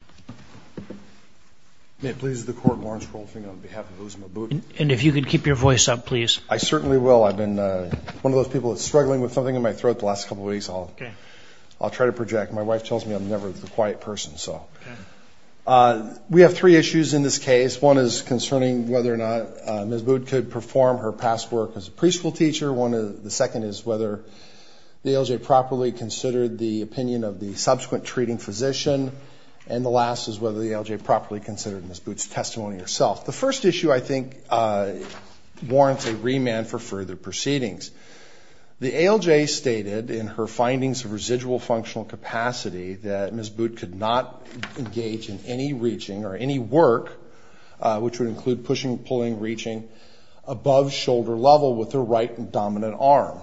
Ms. Butt could perform her past work as a pre-school teacher, the second is whether the ALJ properly considered the opinion of the subsequent treating physician, and the last is whether the ALJ properly considered Ms. Butt's testimony herself. The first issue I think warrants a remand for further proceedings. The ALJ stated in her findings of residual functional capacity that Ms. Butt could not engage in any reaching or any work, which would include pushing, pulling, reaching above shoulder level with her right dominant arm.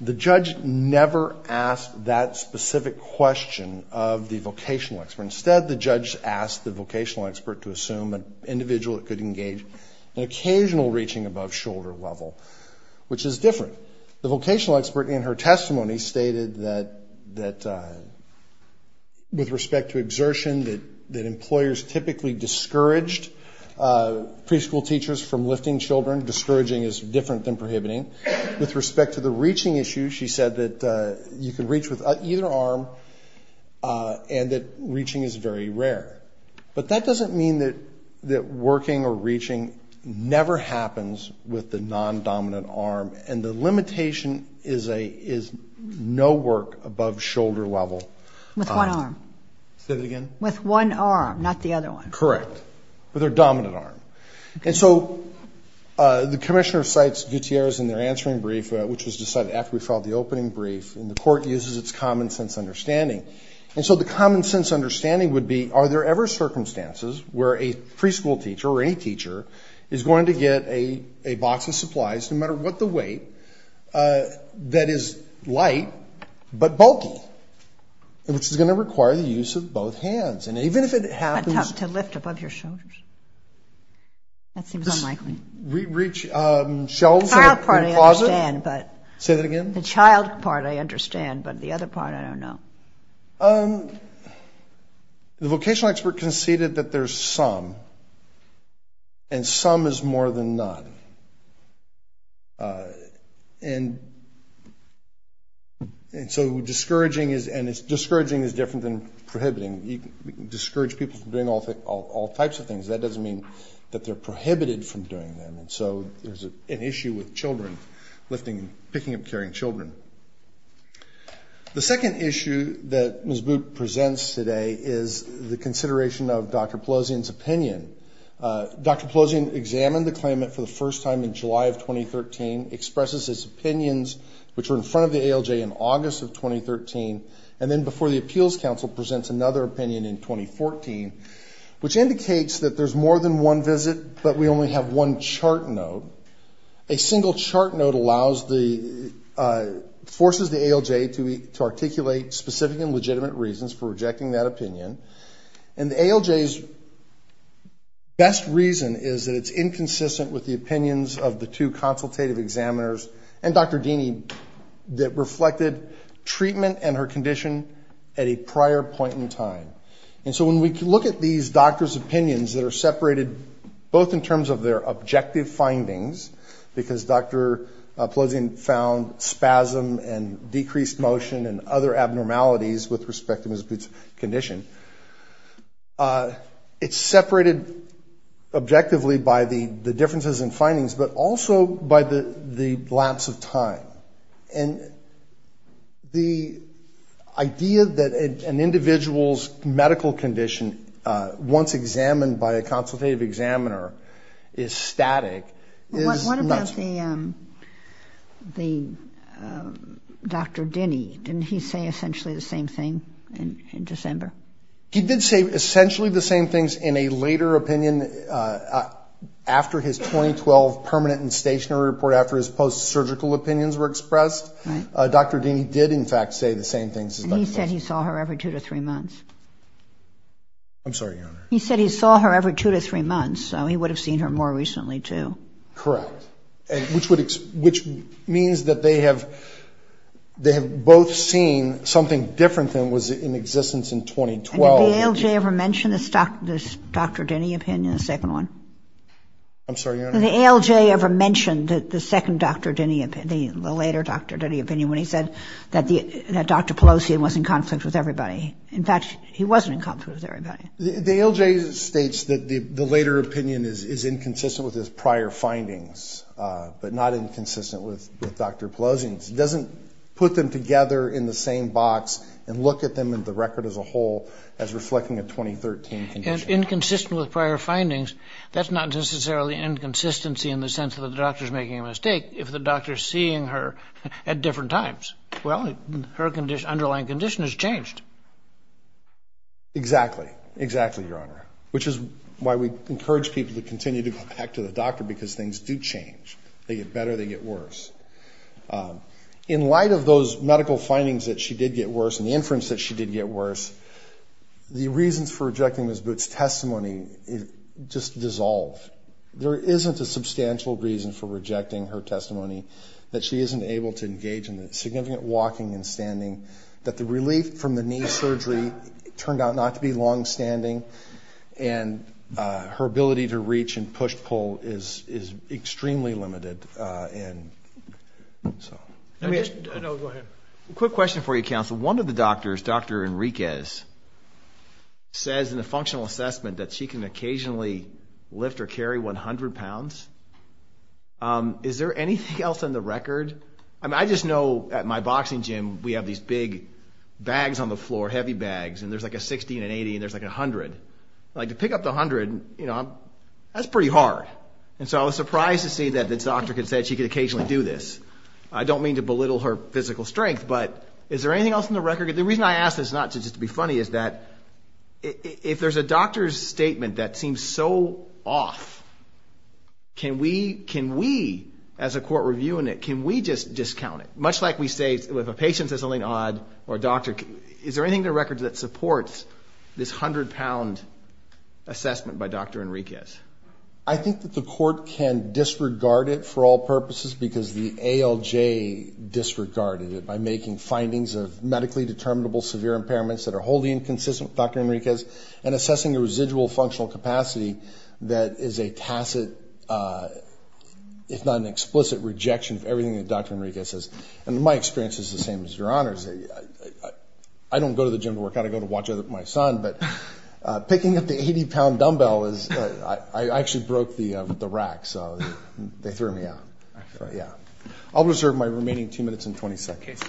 The judge never asked that specific question of the vocational expert. Instead, the judge asked the vocational expert to assume an individual that could engage in occasional reaching above shoulder level, which is different. The vocational expert in her testimony stated that with respect to exertion that employers typically discouraged pre-school teachers from lifting children. Discouraging is different than prohibiting. With respect to the reaching issue, she said that you can reach with either arm and that reaching is very rare. But that doesn't mean that working or reaching never happens with the non-dominant arm, and the limitation is no work above shoulder level. With one arm. Say that again. With one arm, not the other one. Correct. With her dominant arm. And so the commissioner cites Gutierrez in their answering brief, which was decided after we filed the opening brief, and the court uses its common sense understanding. And so the common sense understanding would be are there ever circumstances where a pre-school teacher or any teacher is going to get a box of supplies, no matter what the weight, that is light but bulky, which is going to require the use of both hands. And even if it happens. To lift above your shoulders. That seems unlikely. Reach shelves in a closet. The child part I understand, but. Say that again. The child part I understand, but the other part I don't know. The vocational expert conceded that there's some, and some is more than none. And so discouraging is, and discouraging is different than prohibiting. You can discourage people from doing all types of things. That doesn't mean that they're prohibited from doing them. And so there's an issue with children lifting, picking up and carrying children. The second issue that Ms. Boot presents today is the consideration of Dr. Pelosian's opinion. Dr. Pelosian examined the claimant for the first time in July of 2013, expresses his opinions, which were in front of the ALJ in August of 2013, and then before the Appeals Council presents another opinion in 2014, which indicates that there's more than one visit, but we only have one chart note. A single chart note forces the ALJ to articulate specific and legitimate reasons for rejecting that opinion. And the ALJ's best reason is that it's inconsistent with the opinions of the two consultative examiners and Dr. Dini that reflected treatment and her condition at a prior point in time. And so when we look at these doctors' opinions that are separated, both in terms of their objective findings, because Dr. Pelosian found spasm and decreased motion and other abnormalities with respect to Ms. Boot's condition, it's separated objectively by the differences in findings, but also by the lapse of time. And the idea that an individual's medical condition, once examined by a consultative examiner, is static is not true. The Dr. Dini, didn't he say essentially the same thing in December? He did say essentially the same things in a later opinion after his 2012 permanent and stationary report, after his post-surgical opinions were expressed. Dr. Dini did, in fact, say the same things as Dr. Pelosian. And he said he saw her every two to three months. I'm sorry, Your Honor. He said he saw her every two to three months, so he would have seen her more recently, too. Correct. Which means that they have both seen something different than was in existence in 2012. And did the ALJ ever mention this Dr. Dini opinion, the second one? I'm sorry, Your Honor. Did the ALJ ever mention the second Dr. Dini opinion, the later Dr. Dini opinion, when he said that Dr. Pelosian was in conflict with everybody? In fact, he wasn't in conflict with everybody. The ALJ states that the later opinion is inconsistent with his prior findings, but not inconsistent with Dr. Pelosian's. It doesn't put them together in the same box and look at them and the record as a whole as reflecting a 2013 condition. And inconsistent with prior findings, that's not necessarily inconsistency in the sense that the doctor is making a mistake if the doctor is seeing her at different times. Well, her underlying condition has changed. Exactly, exactly, Your Honor. Which is why we encourage people to continue to go back to the doctor because things do change. They get better, they get worse. In light of those medical findings that she did get worse and the inference that she did get worse, the reasons for rejecting Ms. Boot's testimony just dissolve. There isn't a substantial reason for rejecting her testimony that she isn't able to engage in the significant walking and standing, that the relief from the knee surgery turned out not to be longstanding, and her ability to reach and push-pull is extremely limited. Let me ask a quick question for you, counsel. One of the doctors, Dr. Enriquez, says in a functional assessment that she can occasionally lift or carry 100 pounds. Is there anything else on the record? I just know at my boxing gym we have these big bags on the floor, heavy bags, and there's like a 60 and an 80 and there's like a 100. To pick up the 100, that's pretty hard. And so I was surprised to see that the doctor said she could occasionally do this. I don't mean to belittle her physical strength, but is there anything else on the record? The reason I ask this, not just to be funny, is that if there's a doctor's statement that seems so off, can we, as a court review unit, can we just discount it? Much like we say if a patient says something odd, is there anything on the record that supports this 100-pound assessment by Dr. Enriquez? I think that the court can disregard it for all purposes because the ALJ disregarded it by making findings of medically determinable severe impairments that are wholly inconsistent with Dr. Enriquez and assessing a residual functional capacity that is a tacit, if not an explicit, rejection of everything that Dr. Enriquez says. And my experience is the same as your Honor's. I don't go to the gym to work out. I go to watch my son, but picking up the 80-pound dumbbell, I actually broke the rack, so they threw me out. I'll reserve my remaining two minutes and 20 seconds.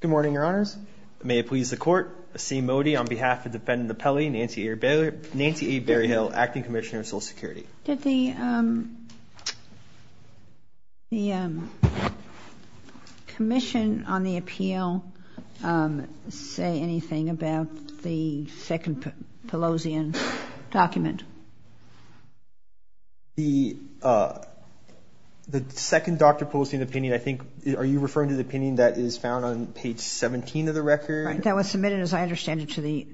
Good morning, Your Honors. May it please the Court to see Mody on behalf of Defendant Appellee Nancy A. Berryhill, Acting Commissioner of Social Security. Did the commission on the appeal say anything about the second part of the appeal? The second Dr. Pelosi opinion, I think, are you referring to the opinion that is found on page 17 of the record? That was submitted, as I understand it, to the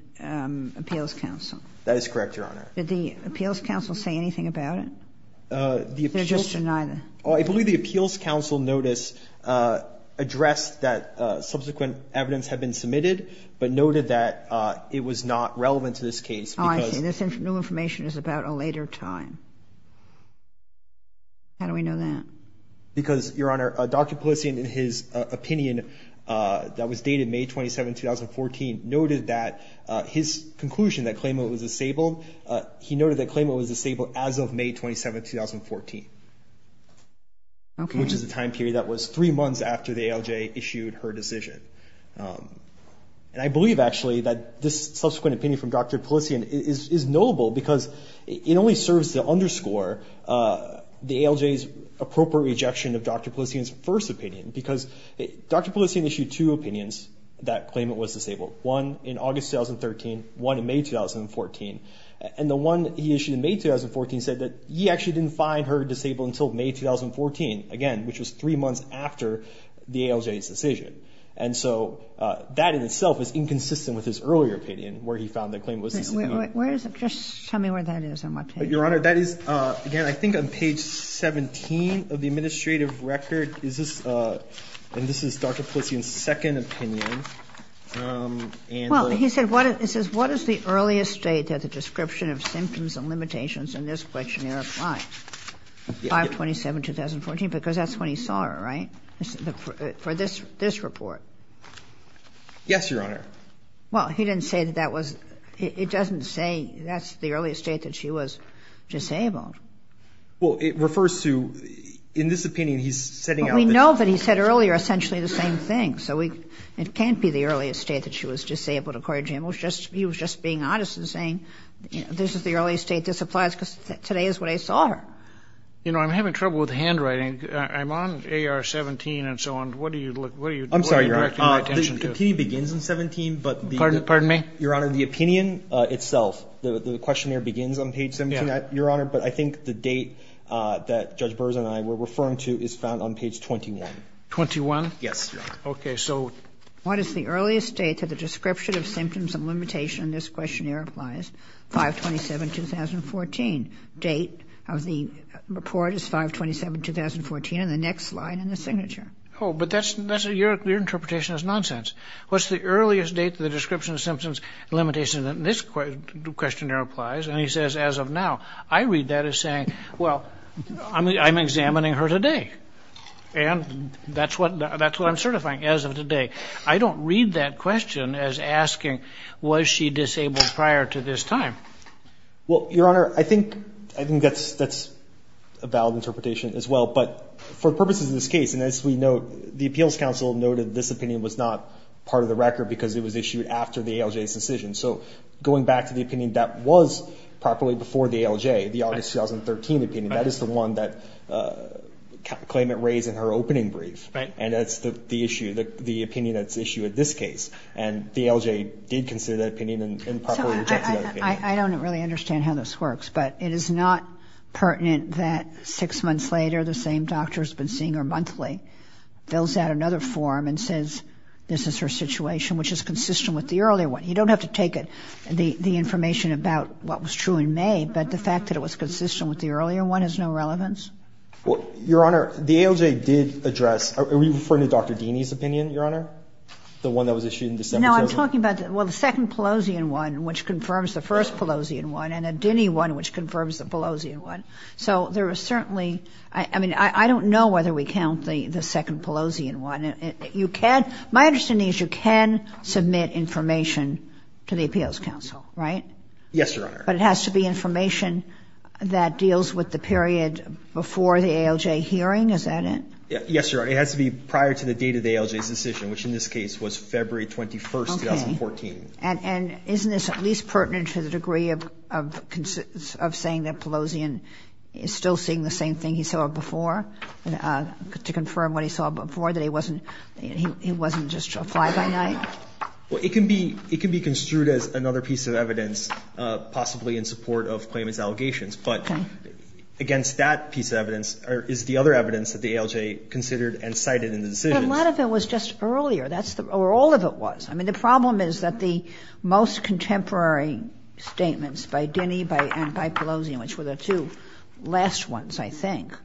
Appeals Council. That is correct, Your Honor. Did the Appeals Council say anything about it? They're just denying it. I believe the Appeals Council notice addressed that subsequent evidence had been submitted but noted that it was not relevant to this case. Oh, I see. This new information is about a later time. How do we know that? Because, Your Honor, Dr. Pelosi, in his opinion that was dated May 27, 2014, noted that his conclusion that Claymo was disabled, he noted that Claymo was disabled as of May 27, 2014, which is a time period that was three months after the ALJ issued her decision. And I believe, actually, that this subsequent opinion from Dr. Pelosi is notable because it only serves to underscore the ALJ's appropriate rejection of Dr. Pelosi's first opinion because Dr. Pelosi issued two opinions that Claymo was disabled, one in August 2013, one in May 2014. And the one he issued in May 2014 said that he actually didn't find her disabled until May 2014, again, which was three months after the ALJ's decision. And so that in itself is inconsistent with his earlier opinion where he found that Claymo was disabled. Where is it? Just tell me where that is. Your Honor, that is, again, I think on page 17 of the administrative record. And this is Dr. Pelosi's second opinion. Well, he said what is the earliest date that the description of symptoms and limitations in this questionnaire applies? May 27, 2014, because that's when he saw her, right, for this report? Yes, Your Honor. Well, he didn't say that that was, it doesn't say that's the earliest date that she was disabled. Well, it refers to, in this opinion, he's setting out. Well, we know that he said earlier essentially the same thing. So it can't be the earliest date that she was disabled, according to him. He was just being honest and saying this is the earliest date this applies because today is when I saw her. You know, I'm having trouble with handwriting. I'm on AR-17 and so on. What are you directing my attention to? I'm sorry, Your Honor. The opinion begins on 17, but the. Pardon me? Your Honor, the opinion itself, the questionnaire begins on page 17, Your Honor, but I think the date that Judge Burrs and I were referring to is found on page 21. 21? Yes, Your Honor. Okay, so. What is the earliest date that the description of symptoms and limitations in this questionnaire applies? 5-27-2014. Date of the report is 5-27-2014 in the next slide in the signature. Oh, but that's, your interpretation is nonsense. What's the earliest date that the description of symptoms and limitations in this questionnaire applies? And he says, as of now. I read that as saying, well, I'm examining her today. And that's what I'm certifying, as of today. I don't read that question as asking was she disabled prior to this time. Well, Your Honor, I think that's a valid interpretation as well. But for purposes of this case, and as we know, the Appeals Council noted this opinion was not part of the record because it was issued after the ALJ's decision. So going back to the opinion that was properly before the ALJ, the August 2013 opinion, that is the one that claimant raised in her opening brief. Right. And that's the issue, the opinion that's issued in this case. And the ALJ did consider that opinion and properly rejected that opinion. I don't really understand how this works, but it is not pertinent that six months later the same doctor has been seeing her monthly, fills out another form and says this is her situation, which is consistent with the earlier one. You don't have to take the information about what was true in May, but the fact that it was consistent with the earlier one has no relevance? Well, Your Honor, the ALJ did address, are we referring to Dr. Dini's opinion, Your Honor, the one that was issued in December 2013? No, I'm talking about, well, the second Pelosian one, which confirms the first Pelosian one, and a Dini one, which confirms the Pelosian one. So there is certainly, I mean, I don't know whether we count the second Pelosian one. My understanding is you can submit information to the Appeals Council, right? Yes, Your Honor. But it has to be information that deals with the period before the ALJ hearing? Is that it? Yes, Your Honor. It has to be prior to the date of the ALJ's decision, which in this case was February 21, 2014. Okay. And isn't this at least pertinent to the degree of saying that Pelosian is still seeing the same thing he saw before, to confirm what he saw before, that he wasn't just a fly-by-night? Well, it can be construed as another piece of evidence possibly in support of Clayman's allegations. Okay. But against that piece of evidence is the other evidence that the ALJ considered and cited in the decision. But a lot of it was just earlier. That's where all of it was. I mean, the problem is that the most contemporary statements by Dini and by Pelosian, which were the two last ones, I think,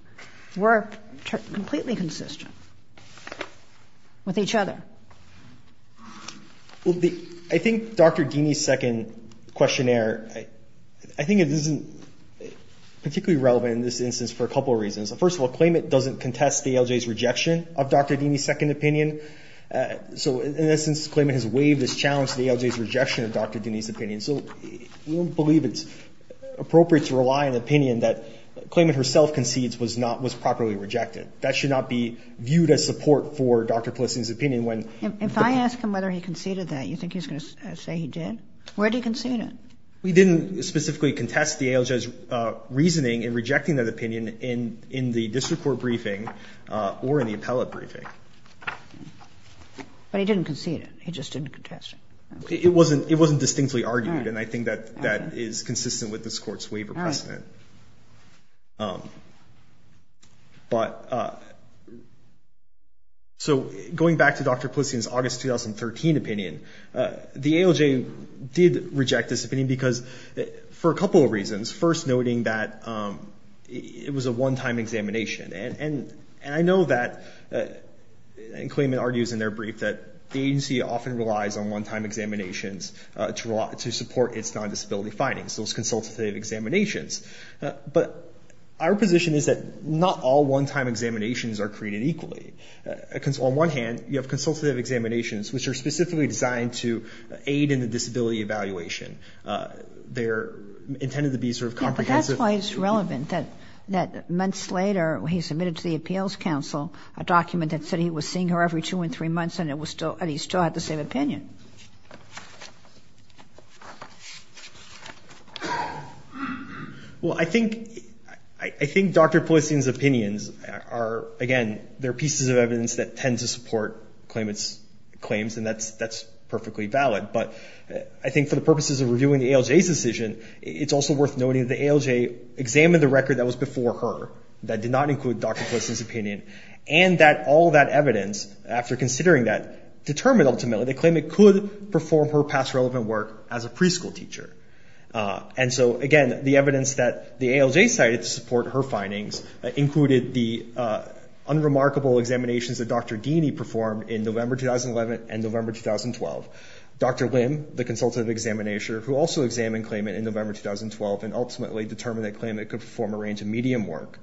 were completely consistent with each other. Well, I think Dr. Dini's second questionnaire, I think it isn't particularly relevant in this instance for a couple reasons. First of all, Clayman doesn't contest the ALJ's rejection of Dr. Dini's second opinion. So, in essence, Clayman has waived his challenge to the ALJ's rejection of Dr. Dini's opinion. So we don't believe it's appropriate to rely on an opinion that Clayman herself concedes was not – was properly rejected. That should not be viewed as support for Dr. Pelosian's opinion when – If I ask him whether he conceded that, you think he's going to say he did? Where did he concede it? He didn't specifically contest the ALJ's reasoning in rejecting that opinion in the district court briefing or in the appellate briefing. But he didn't concede it. He just didn't contest it. It wasn't distinctly argued, and I think that is consistent with this Court's waiver precedent. All right. But – so going back to Dr. Pelosian's August 2013 opinion, the ALJ did reject this opinion because – for a couple of reasons. First, noting that it was a one-time examination. And I know that – and Clayman argues in their brief that the agency often relies on one-time examinations to support its non-disability findings, those consultative examinations. But our position is that not all one-time examinations are created equally. On one hand, you have consultative examinations, which are specifically designed to aid in the disability evaluation. They're intended to be sort of comprehensive. But that's why it's relevant that months later, when he submitted to the Appeals Council a document that said he was seeing her every two and three months and it was still – and he still had the same opinion. Well, I think – I think Dr. Pelosian's opinions are – again, they're pieces of evidence that tend to support Clayman's claims, and that's perfectly valid. But I think for the purposes of reviewing the ALJ's decision, it's also worth noting that the ALJ examined the record that was before her that did not include Dr. Pelosian's opinion, and that all that evidence, after considering that, determined ultimately that Clayman could perform her past relevant work as a preschool teacher. And so, again, the evidence that the ALJ cited to support her findings included the unremarkable examinations that Dr. Dini performed in November 2011 and November 2012. Dr. Lim, the consultative examinator, who also examined Clayman in November 2012 and ultimately determined that Clayman could perform a range of medium work,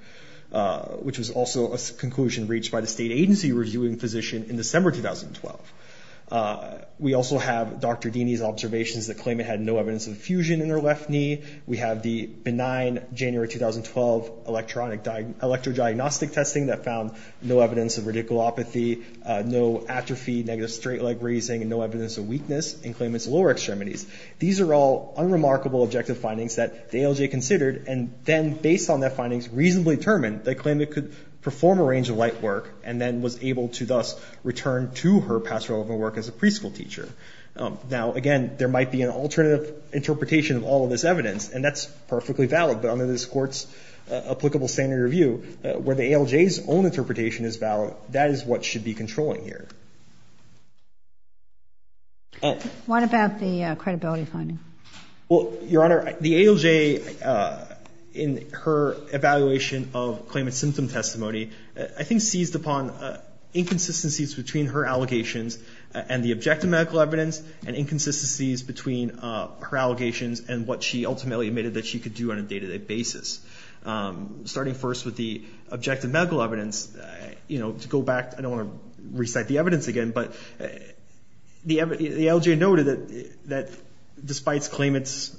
which was also a conclusion reached by the state agency reviewing physician in December 2012. We also have Dr. Dini's observations that Clayman had no evidence of fusion in her left knee. We have the benign January 2012 electrodiagnostic testing that found no evidence of radiculopathy, no atrophy, negative straight leg grazing, and no evidence of weakness in Clayman's lower extremities. These are all unremarkable objective findings that the ALJ considered and then, based on their findings, reasonably determined that Clayman could perform a range of light work and then was able to thus return to her past relevant work as a preschool teacher. Now, again, there might be an alternative interpretation of all of this evidence, and that's perfectly valid, but under this Court's What about the credibility finding? Well, Your Honor, the ALJ, in her evaluation of Clayman's symptom testimony, I think seized upon inconsistencies between her allegations and the objective medical evidence and inconsistencies between her allegations and what she ultimately admitted that she could do on a day-to-day basis. Starting first with the objective medical evidence, to go back, I don't want to recite the evidence again, but the ALJ noted that despite Clayman's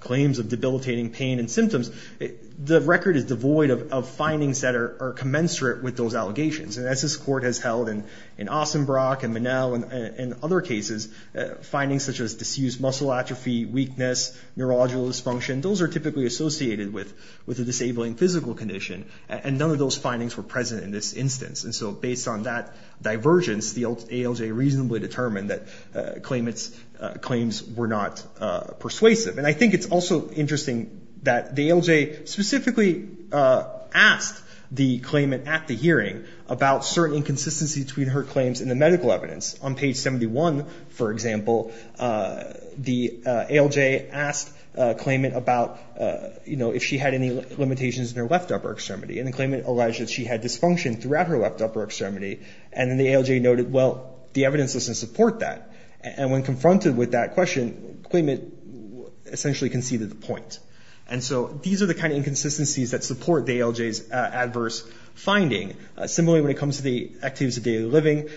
claims of debilitating pain and symptoms, the record is devoid of findings that are commensurate with those allegations. And as this Court has held in Ossenbrock and Minnell and other cases, findings such as disused muscle atrophy, weakness, neurological dysfunction, those are typically associated with a disabling physical condition, and none of those findings were present in this instance. And so based on that divergence, the ALJ reasonably determined that Clayman's claims were not persuasive. And I think it's also interesting that the ALJ specifically asked the Clayman at the hearing about certain inconsistencies between her and Clayman about, you know, if she had any limitations in her left upper extremity. And then Clayman alleged that she had dysfunction throughout her left upper extremity, and then the ALJ noted, well, the evidence doesn't support that. And when confronted with that question, Clayman essentially conceded the point. And so these are the kind of inconsistencies that support the ALJ's adverse finding. Similarly, when it comes to the activities of daily living,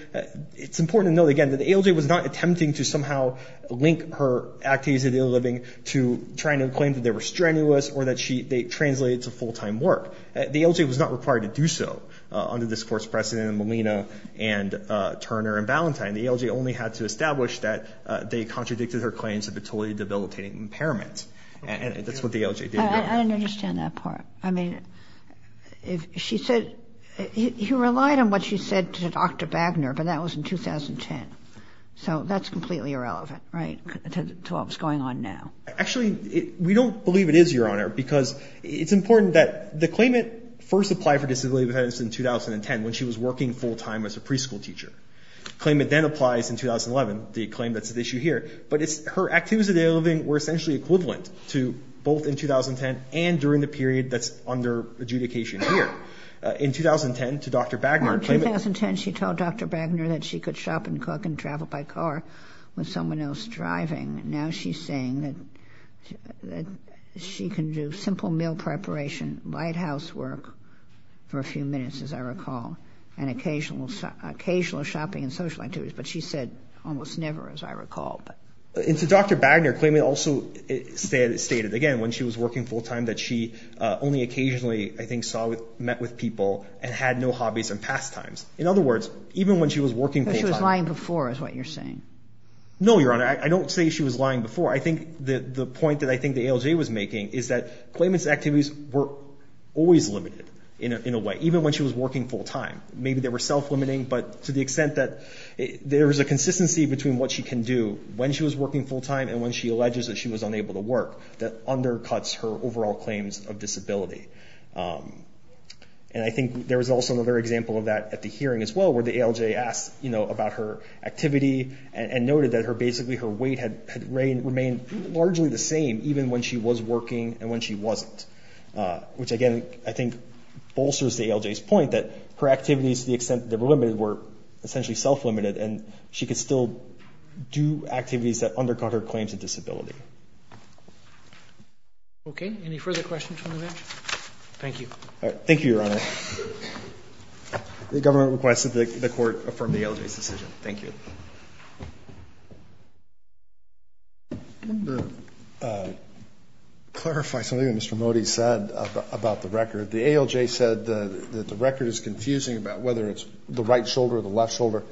it's important to note, again, that the ALJ was not attempting to somehow link her activities of daily living to trying to claim that they were strenuous or that they translated to full-time work. The ALJ was not required to do so under this Court's precedent in Molina and Turner and Valentine. The ALJ only had to establish that they contradicted her claims of a totally debilitating impairment. And that's what the ALJ did. I don't understand that part. I mean, if she said he relied on what she said to Dr. Bagner, but that was in 2010. So that's completely irrelevant, right, to what was going on now. Actually, we don't believe it is, Your Honor, because it's important that the claimant first applied for disability benefits in 2010 when she was working full-time as a preschool teacher. The claimant then applies in 2011, the claim that's at issue here. But her activities of daily living were essentially equivalent to both in 2010 and during the period that's under adjudication here. In 2010, to Dr. Bagner, the claimant... with someone else driving. Now she's saying that she can do simple meal preparation, lighthouse work for a few minutes, as I recall, and occasional shopping and social activities. But she said almost never, as I recall. And to Dr. Bagner, the claimant also stated, again, when she was working full-time that she only occasionally, I think, met with people and had no hobbies and pastimes. In other words, even when she was working full-time... She was lying before is what you're saying. No, Your Honor. I don't say she was lying before. I think the point that I think the ALJ was making is that claimant's activities were always limited in a way, even when she was working full-time. Maybe they were self-limiting, but to the extent that there is a consistency between what she can do when she was working full-time and when she alleges that she was unable to work that undercuts her overall claims of disability. And I think there was also another example of that at the hearing as well, where the ALJ asked about her activity and noted that basically her weight had remained largely the same, even when she was working and when she wasn't. Which, again, I think bolsters the ALJ's point that her activities, to the extent that they were limited, were essentially self-limited, and she could still do activities that undercut her claims of disability. Okay. Any further questions from the bench? Thank you. All right. Thank you, Your Honor. The government requested that the court affirm the ALJ's decision. Thank you. I wanted to clarify something that Mr. Mody said about the record. The ALJ said that the record is confusing about whether it's the right shoulder or the left shoulder.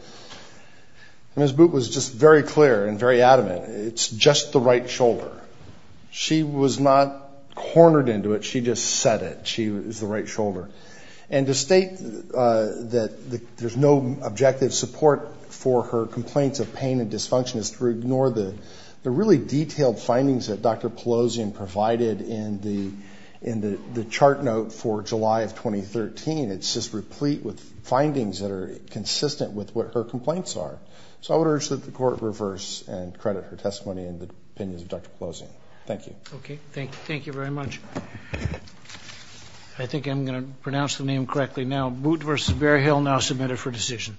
Ms. Boot was just very clear and very adamant. It's just the right shoulder. She was not cornered into it. She just said it. She was the right shoulder. And to state that there's no objective support for her complaints of pain and dysfunction is to ignore the really detailed findings that Dr. Pelosian provided in the chart note for July of 2013. It's just replete with findings that are consistent with what her complaints are. So I would urge that the court reverse and credit her testimony and the opinions of Dr. Pelosian. Thank you. Okay. Thank you very much. I think I'm going to pronounce the name correctly now. Boot v. Bearhill now submitted for decision.